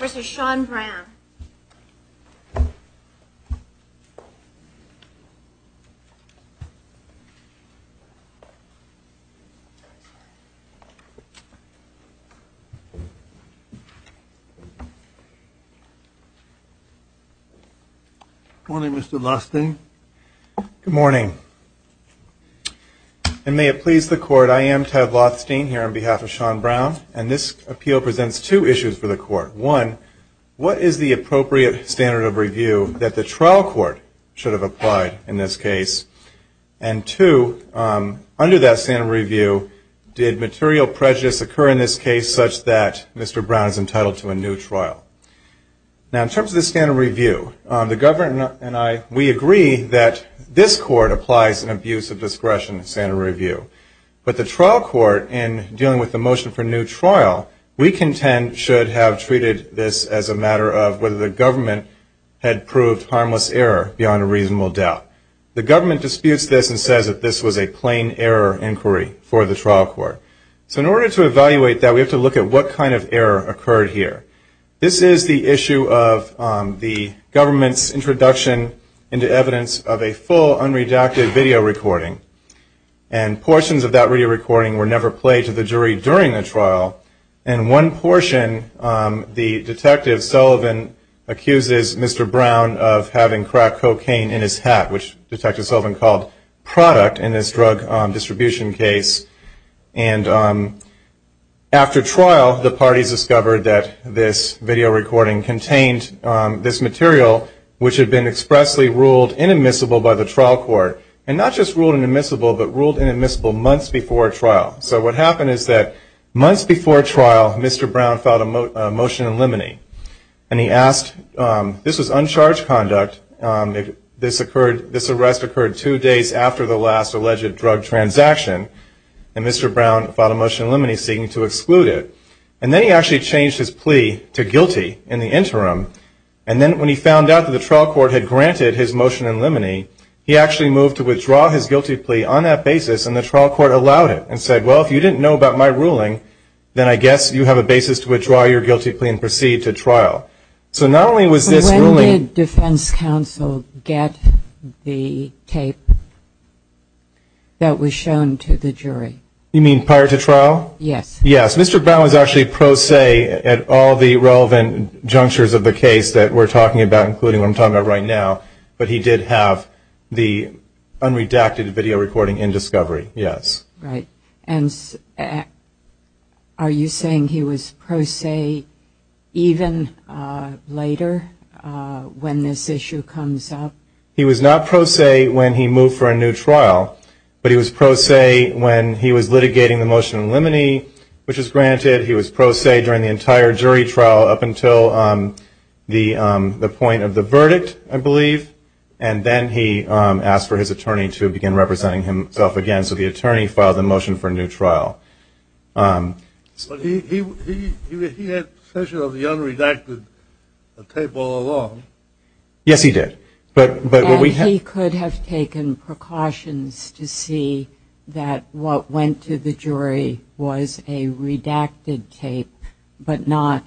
v. Sean Brown Good morning Mr. Lothstein Good morning And may it please the court, I am Ted Lothstein here on behalf of Sean Brown And this appeal presents two issues for the court One, what is the appropriate standard of review that the trial court should have applied in this case? And two, under that standard of review, did material prejudice occur in this case such that Mr. Brown is entitled to a new trial? Now in terms of the standard of review, the government and I, we agree that this court applies an abuse of discretion standard of review But the trial court, in dealing with the motion for new trial, we contend should have treated this as a matter of whether the government had proved harmless error beyond a reasonable doubt The government disputes this and says that this was a plain error inquiry for the trial court So in order to evaluate that, we have to look at what kind of error occurred here This is the issue of the government's introduction into evidence of a full unredacted video recording And portions of that video recording were never played to the jury during the trial And one portion, the detective Sullivan accuses Mr. Brown of having cracked cocaine in his hat Which detective Sullivan called product in this drug distribution case And after trial, the parties discovered that this video recording contained this material which had been expressly ruled inadmissible by the trial court And not just ruled inadmissible, but ruled inadmissible months before trial So what happened is that months before trial, Mr. Brown filed a motion in limine And he asked, this was uncharged conduct, this arrest occurred two days after the last alleged drug transaction And Mr. Brown filed a motion in limine seeking to exclude it And then he actually changed his plea to guilty in the interim And then when he found out that the trial court had granted his motion in limine He actually moved to withdraw his guilty plea on that basis and the trial court allowed it And said, well if you didn't know about my ruling, then I guess you have a basis to withdraw your guilty plea and proceed to trial So not only was this ruling Did defense counsel get the tape that was shown to the jury? You mean prior to trial? Yes Yes, Mr. Brown was actually pro se at all the relevant junctures of the case that we're talking about, including what I'm talking about right now But he did have the unredacted video recording in discovery, yes Right, and are you saying he was pro se even later when this issue comes up? He was not pro se when he moved for a new trial, but he was pro se when he was litigating the motion in limine Which was granted, he was pro se during the entire jury trial up until the point of the verdict, I believe And then he asked for his attorney to begin representing himself again And so the attorney filed the motion for a new trial But he had possession of the unredacted tape all along Yes he did And he could have taken precautions to see that what went to the jury was a redacted tape, but not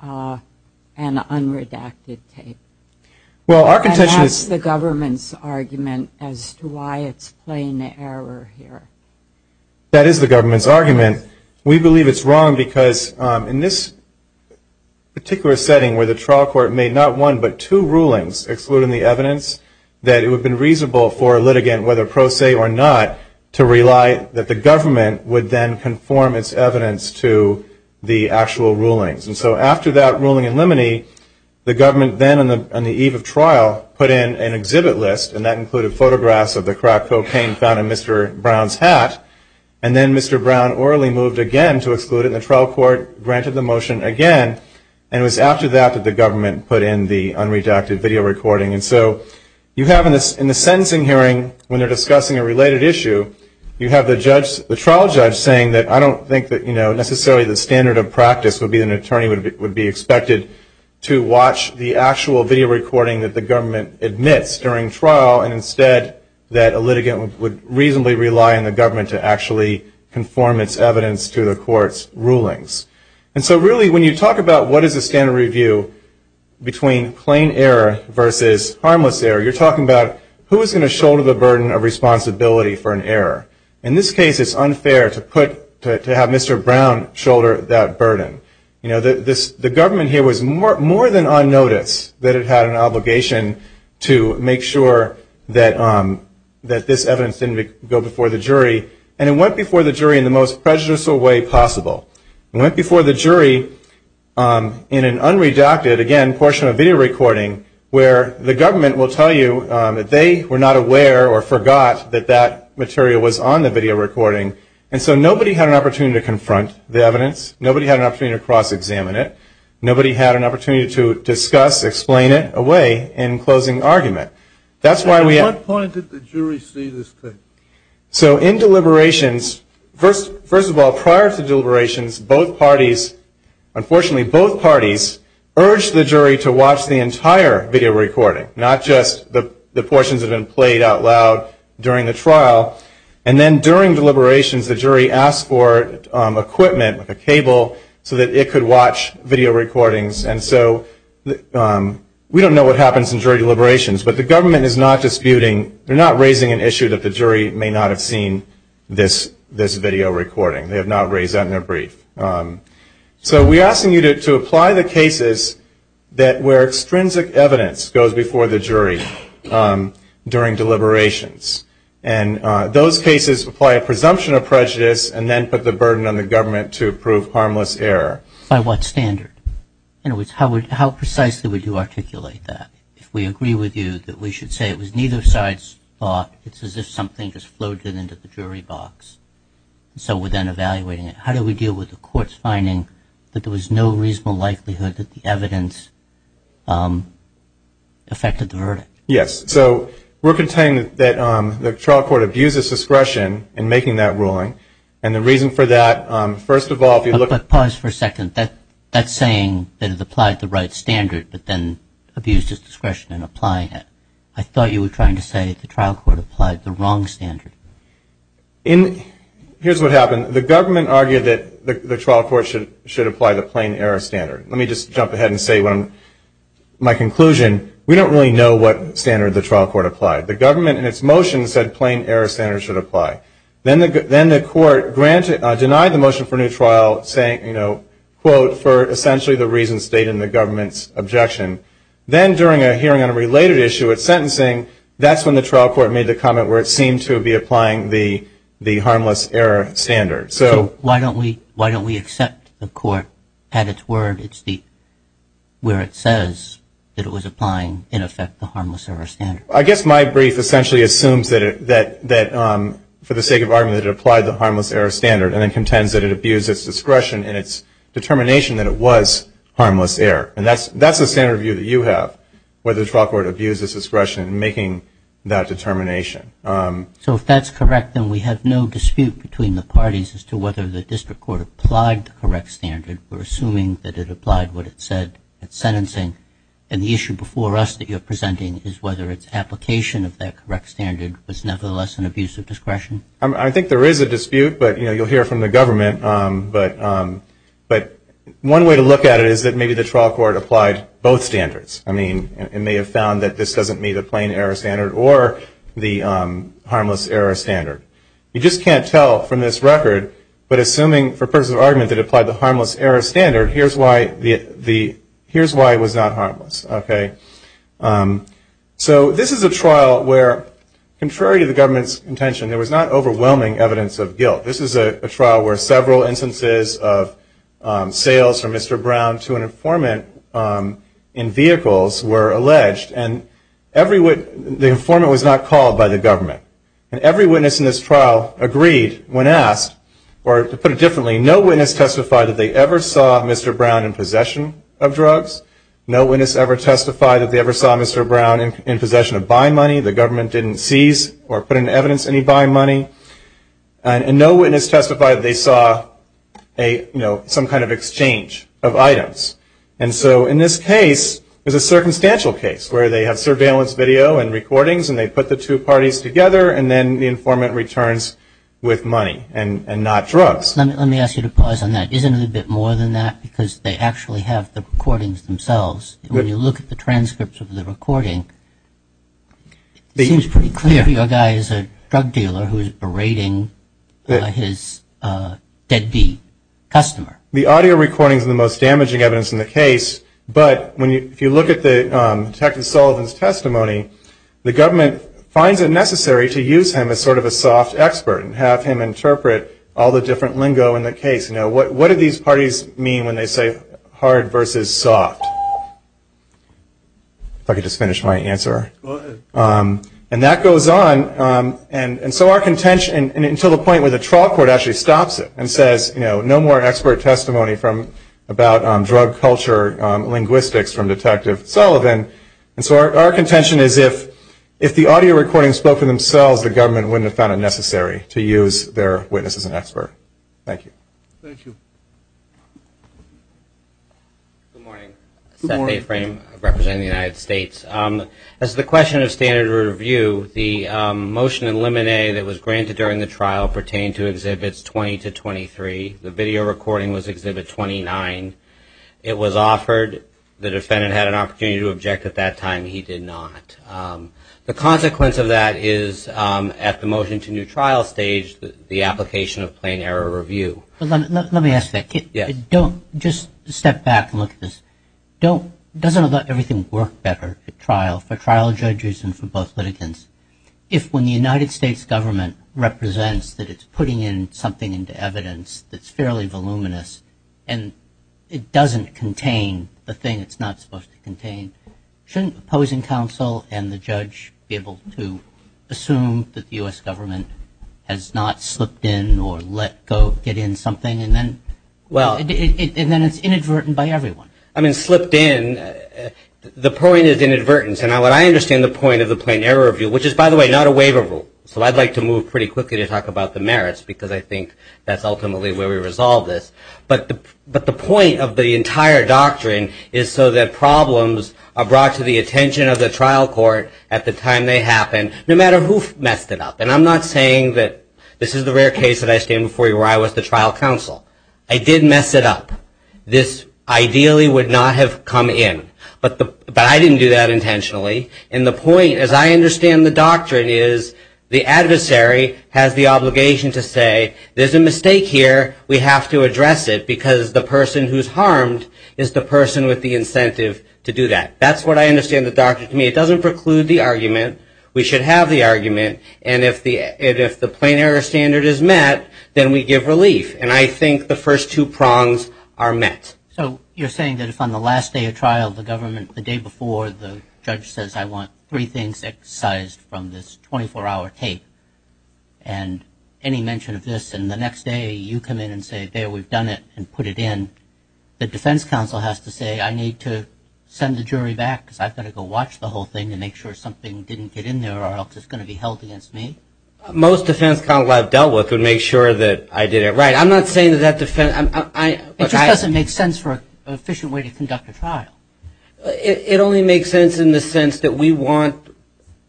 an unredacted tape And that's the government's argument as to why it's plain error here That is the government's argument We believe it's wrong because in this particular setting where the trial court made not one but two rulings excluding the evidence That it would have been reasonable for a litigant, whether pro se or not To rely that the government would then conform its evidence to the actual rulings And so after that ruling in limine, the government then on the eve of trial put in an exhibit list And that included photographs of the crack cocaine found in Mr. Brown's hat And then Mr. Brown orally moved again to exclude it And the trial court granted the motion again And it was after that that the government put in the unredacted video recording And so you have in the sentencing hearing when they're discussing a related issue You have the trial judge saying that I don't think that necessarily the standard of practice would be An attorney would be expected to watch the actual video recording that the government admits during trial And instead that a litigant would reasonably rely on the government to actually conform its evidence to the court's rulings And so really when you talk about what is the standard review between plain error versus harmless error You're talking about who is going to shoulder the burden of responsibility for an error In this case it's unfair to have Mr. Brown shoulder that burden The government here was more than on notice that it had an obligation to make sure that this evidence didn't go before the jury And it went before the jury in the most prejudicial way possible It went before the jury in an unredacted, again, portion of video recording Where the government will tell you that they were not aware or forgot that that material was on the video recording And so nobody had an opportunity to confront the evidence Nobody had an opportunity to cross-examine it Nobody had an opportunity to discuss, explain it away in closing argument At what point did the jury see this thing? So in deliberations, first of all, prior to deliberations both parties Unfortunately both parties urged the jury to watch the entire video recording Not just the portions that have been played out loud during the trial And then during deliberations the jury asked for equipment, like a cable, so that it could watch video recordings And so we don't know what happens in jury deliberations But the government is not disputing, they're not raising an issue that the jury may not have seen this video recording They have not raised that in their brief So we're asking you to apply the cases where extrinsic evidence goes before the jury during deliberations And those cases apply a presumption of prejudice and then put the burden on the government to prove harmless error By what standard? In other words, how precisely would you articulate that? If we agree with you that we should say it was neither side's fault It's as if something just floated into the jury box So we're then evaluating it How do we deal with the court's finding that there was no reasonable likelihood that the evidence affected the verdict? Yes, so we're contending that the trial court abused its discretion in making that ruling And the reason for that, first of all Pause for a second, that's saying that it applied the right standard but then abused its discretion in applying it I thought you were trying to say the trial court applied the wrong standard Here's what happened The government argued that the trial court should apply the plain error standard Let me just jump ahead and say my conclusion We don't really know what standard the trial court applied The government in its motion said plain error standard should apply Then the court denied the motion for a new trial saying, quote For essentially the reasons stated in the government's objection Then during a hearing on a related issue at sentencing That's when the trial court made the comment where it seemed to be applying the harmless error standard So why don't we accept the court at its word Where it says that it was applying, in effect, the harmless error standard I guess my brief essentially assumes that for the sake of argument that it applied the harmless error standard And then contends that it abused its discretion in its determination that it was harmless error And that's the standard view that you have Whether the trial court abused its discretion in making that determination So if that's correct, then we have no dispute between the parties As to whether the district court applied the correct standard We're assuming that it applied what it said at sentencing And the issue before us that you're presenting is whether its application of that correct standard Was nevertheless an abuse of discretion I think there is a dispute, but you'll hear from the government But one way to look at it is that maybe the trial court applied both standards I mean, it may have found that this doesn't meet a plain error standard Or the harmless error standard You just can't tell from this record But assuming for purposes of argument that it applied the harmless error standard Here's why it was not harmless So this is a trial where, contrary to the government's intention There was not overwhelming evidence of guilt This is a trial where several instances of sales from Mr. Brown to an informant in vehicles were alleged And the informant was not called by the government And every witness in this trial agreed when asked Or to put it differently, no witness testified that they ever saw Mr. Brown in possession of drugs No witness ever testified that they ever saw Mr. Brown in possession of buying money The government didn't seize or put in evidence any buying money And no witness testified that they saw some kind of exchange of items And so in this case, it was a circumstantial case Where they have surveillance video and recordings And they put the two parties together And then the informant returns with money and not drugs Let me ask you to pause on that Isn't it a bit more than that? Because they actually have the recordings themselves When you look at the transcripts of the recording It seems pretty clear your guy is a drug dealer who is berating his dead bee customer The audio recordings are the most damaging evidence in the case But if you look at Detective Sullivan's testimony The government finds it necessary to use him as sort of a soft expert And have him interpret all the different lingo in the case Now what do these parties mean when they say hard versus soft? If I could just finish my answer And that goes on And so our contention until the point where the trial court actually stops it And says no more expert testimony about drug culture linguistics from Detective Sullivan And so our contention is if the audio recordings spoke for themselves The government wouldn't have found it necessary to use their witness as an expert Thank you Good morning Seth Mayframe representing the United States As to the question of standard review The motion in limine that was granted during the trial pertained to Exhibits 20 to 23 The video recording was Exhibit 29 It was offered The defendant had an opportunity to object at that time He did not The consequence of that is at the motion to new trial stage The application of plain error review Let me ask that Don't just step back and look at this Doesn't everything work better at trial For trial judges and for both litigants If when the United States government represents That it's putting in something into evidence That's fairly voluminous And it doesn't contain the thing it's not supposed to contain Shouldn't opposing counsel and the judge be able to assume That the U.S. government has not slipped in or let go Get in something and then Well And then it's inadvertent by everyone I mean slipped in The point is inadvertence And I understand the point of the plain error review Which is by the way not a waiver rule So I'd like to move pretty quickly to talk about the merits Because I think that's ultimately where we resolve this But the point of the entire doctrine Is so that problems are brought to the attention of the trial court At the time they happen No matter who messed it up And I'm not saying that This is the rare case that I stand before you Where I was the trial counsel I did mess it up This ideally would not have come in But I didn't do that intentionally And the point as I understand the doctrine is The adversary has the obligation to say There's a mistake here We have to address it Because the person who's harmed That's what I understand the doctrine to mean It doesn't preclude the argument We should have the argument And if the plain error standard is met Then we give relief And I think the first two prongs are met So you're saying that if on the last day of trial The government The day before the judge says I want three things excised from this 24-hour tape And any mention of this And the next day you come in and say There we've done it and put it in The defense counsel has to say I need to send the jury back Because I've got to go watch the whole thing And make sure something didn't get in there Or else it's going to be held against me Most defense counsel I've dealt with Would make sure that I did it right I'm not saying that that defense It just doesn't make sense For an efficient way to conduct a trial It only makes sense in the sense that We want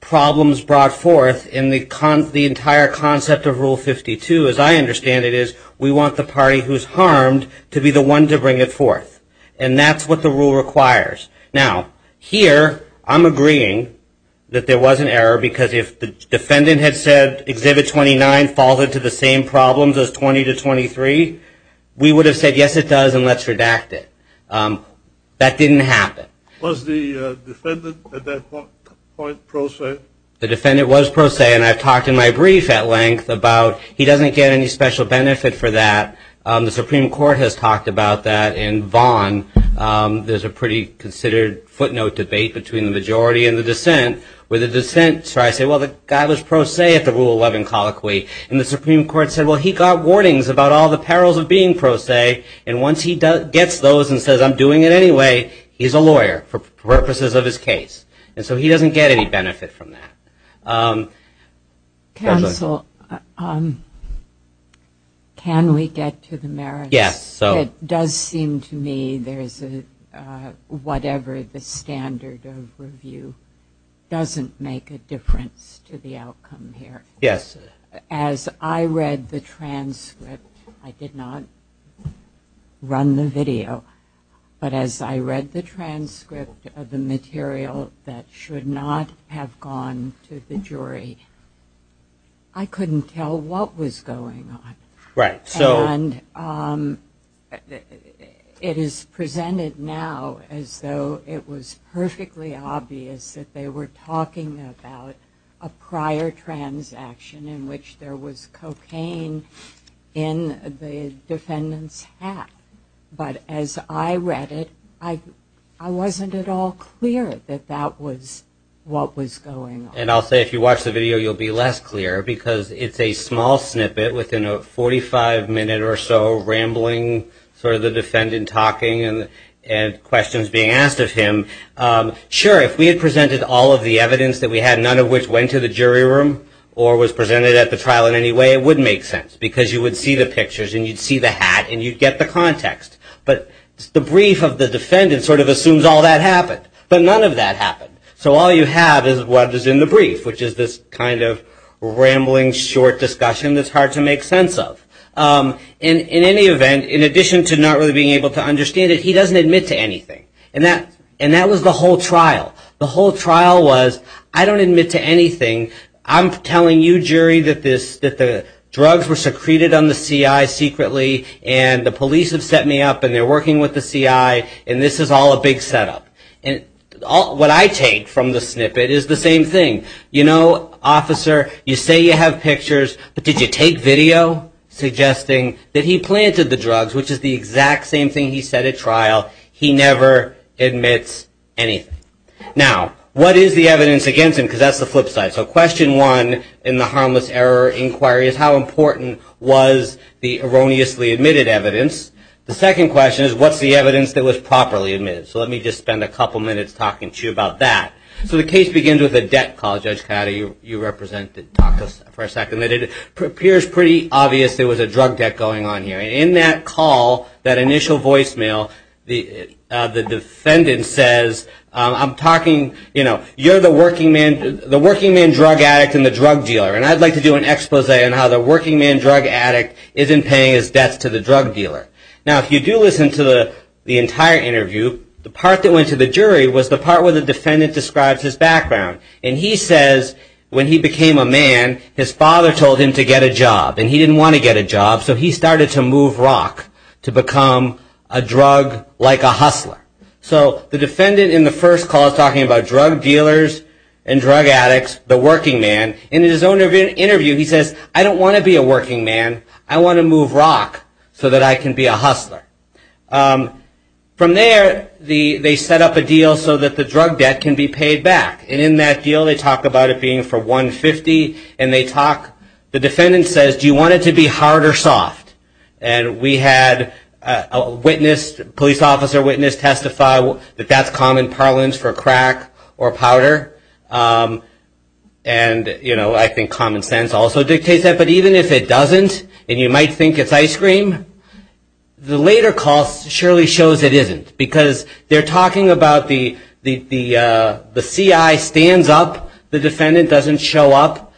problems brought forth In the entire concept of Rule 52 As I understand it is We want the party who's harmed To be the one to bring it forth And that's what the rule requires Now here I'm agreeing That there was an error Because if the defendant had said Exhibit 29 falls into the same problems as 20 to 23 We would have said yes it does And let's redact it That didn't happen Was the defendant at that point pro se? The defendant was pro se And I've talked in my brief at length About he doesn't get any special benefit for that The Supreme Court has talked about that In Vaughn there's a pretty considered footnote debate Between the majority and the dissent Where the dissent tries to say Well the guy was pro se at the Rule 11 colloquy And the Supreme Court said Well he got warnings about all the perils of being pro se And once he gets those and says I'm doing it anyway He's a lawyer for purposes of his case And so he doesn't get any benefit from that Counsel Can we get to the merits? Yes It does seem to me there's a Whatever the standard of review Doesn't make a difference to the outcome here As I read the transcript I did not run the video But as I read the transcript of the material That should not have gone to the jury I couldn't tell what was going on And it is presented now As though it was perfectly obvious That they were talking about A prior transaction In which there was cocaine In the defendant's hat But as I read it I wasn't at all clear That that was what was going on And I'll say if you watch the video You'll be less clear Because it's a small snippet Within a 45 minute or so Rambling Sort of the defendant talking And questions being asked of him Sure, if we had presented all of the evidence That we had None of which went to the jury room Or was presented at the trial in any way It would make sense Because you would see the pictures And you'd see the hat And you'd get the context Sort of assumes all that happened But none of that happened So all you have is what is in the brief Which is this kind of rambling Short discussion That's hard to make sense of In any event In addition to not really being able to understand it He doesn't admit to anything And that was the whole trial The whole trial was I don't admit to anything I'm telling you jury That the drugs were secreted On the CI secretly And the police have set me up And they're working with the CI And this is all a big setup And what I take from the snippet Is the same thing You know, officer You say you have pictures But did you take video Suggesting that he planted the drugs Which is the exact same thing he said at trial He never admits anything Now, what is the evidence against him Because that's the flip side So question one In the harmless error inquiry Is how important was The erroneously admitted evidence The second question is What's the evidence that was properly admitted So let me just spend a couple minutes Talking to you about that So the case begins with a debt call Judge Coyote, you represent Talk to us for a second It appears pretty obvious There was a drug debt going on here In that call That initial voicemail The defendant says I'm talking, you know You're the working man The working man drug addict And the drug dealer And I'd like to do an expose On how the working man drug addict Isn't paying his debts to the drug dealer Now, if you do listen to the entire interview The part that went to the jury Was the part where the defendant Describes his background And he says When he became a man His father told him to get a job And he didn't want to get a job So he started to move rock To become a drug like a hustler So the defendant in the first call Is talking about drug dealers And drug addicts The working man And in his own interview He says I don't want to be a working man I want to move rock So that I can be a hustler From there They set up a deal So that the drug debt Can be paid back And in that deal They talk about it being for $150 And they talk The defendant says Do you want it to be hard or soft? And we had a witness Police officer witness Testify that that's common parlance For crack or powder And, you know I think common sense Also dictates that But even if it doesn't And you might think it's ice cream The later calls Surely shows it isn't Because they're talking about The CI stands up The defendant doesn't show up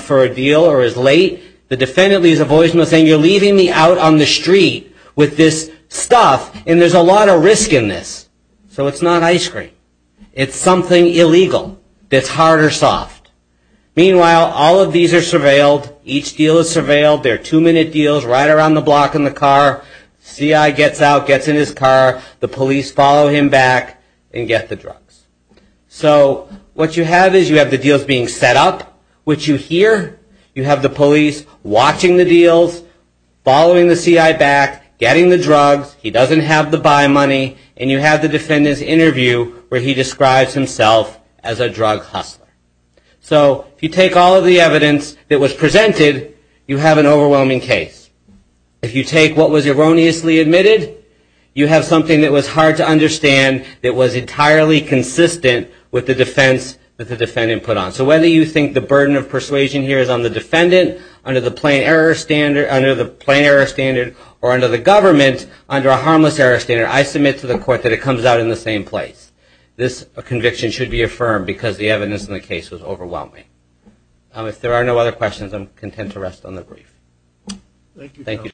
For a deal Or is late The defendant leaves a voice And is saying You're leaving me out on the street With this stuff And there's a lot of risk in this So it's not ice cream It's something illegal That's hard or soft Meanwhile All of these are surveilled Each deal is surveilled They're two minute deals Right around the block in the car CI gets out Gets in his car The police follow him back And get the drugs So what you have is You have the deals being set up Which you hear You have the police Watching the deals Following the CI back Getting the drugs He doesn't have the buy money And you have the defendant's interview Where he describes himself As a drug hustler So if you take all of the evidence That was presented You have an overwhelming case If you take what was erroneously admitted You have something that was hard to understand That was entirely consistent With the defense That the defendant put on So whether you think The burden of persuasion here Is on the defendant Under the plain error standard Under the plain error standard Or under the government Under a harmless error standard I submit to the court That it comes out in the same place This conviction should be affirmed Because the evidence in the case Was overwhelming If there are no other questions I'm content to rest on the brief Thank you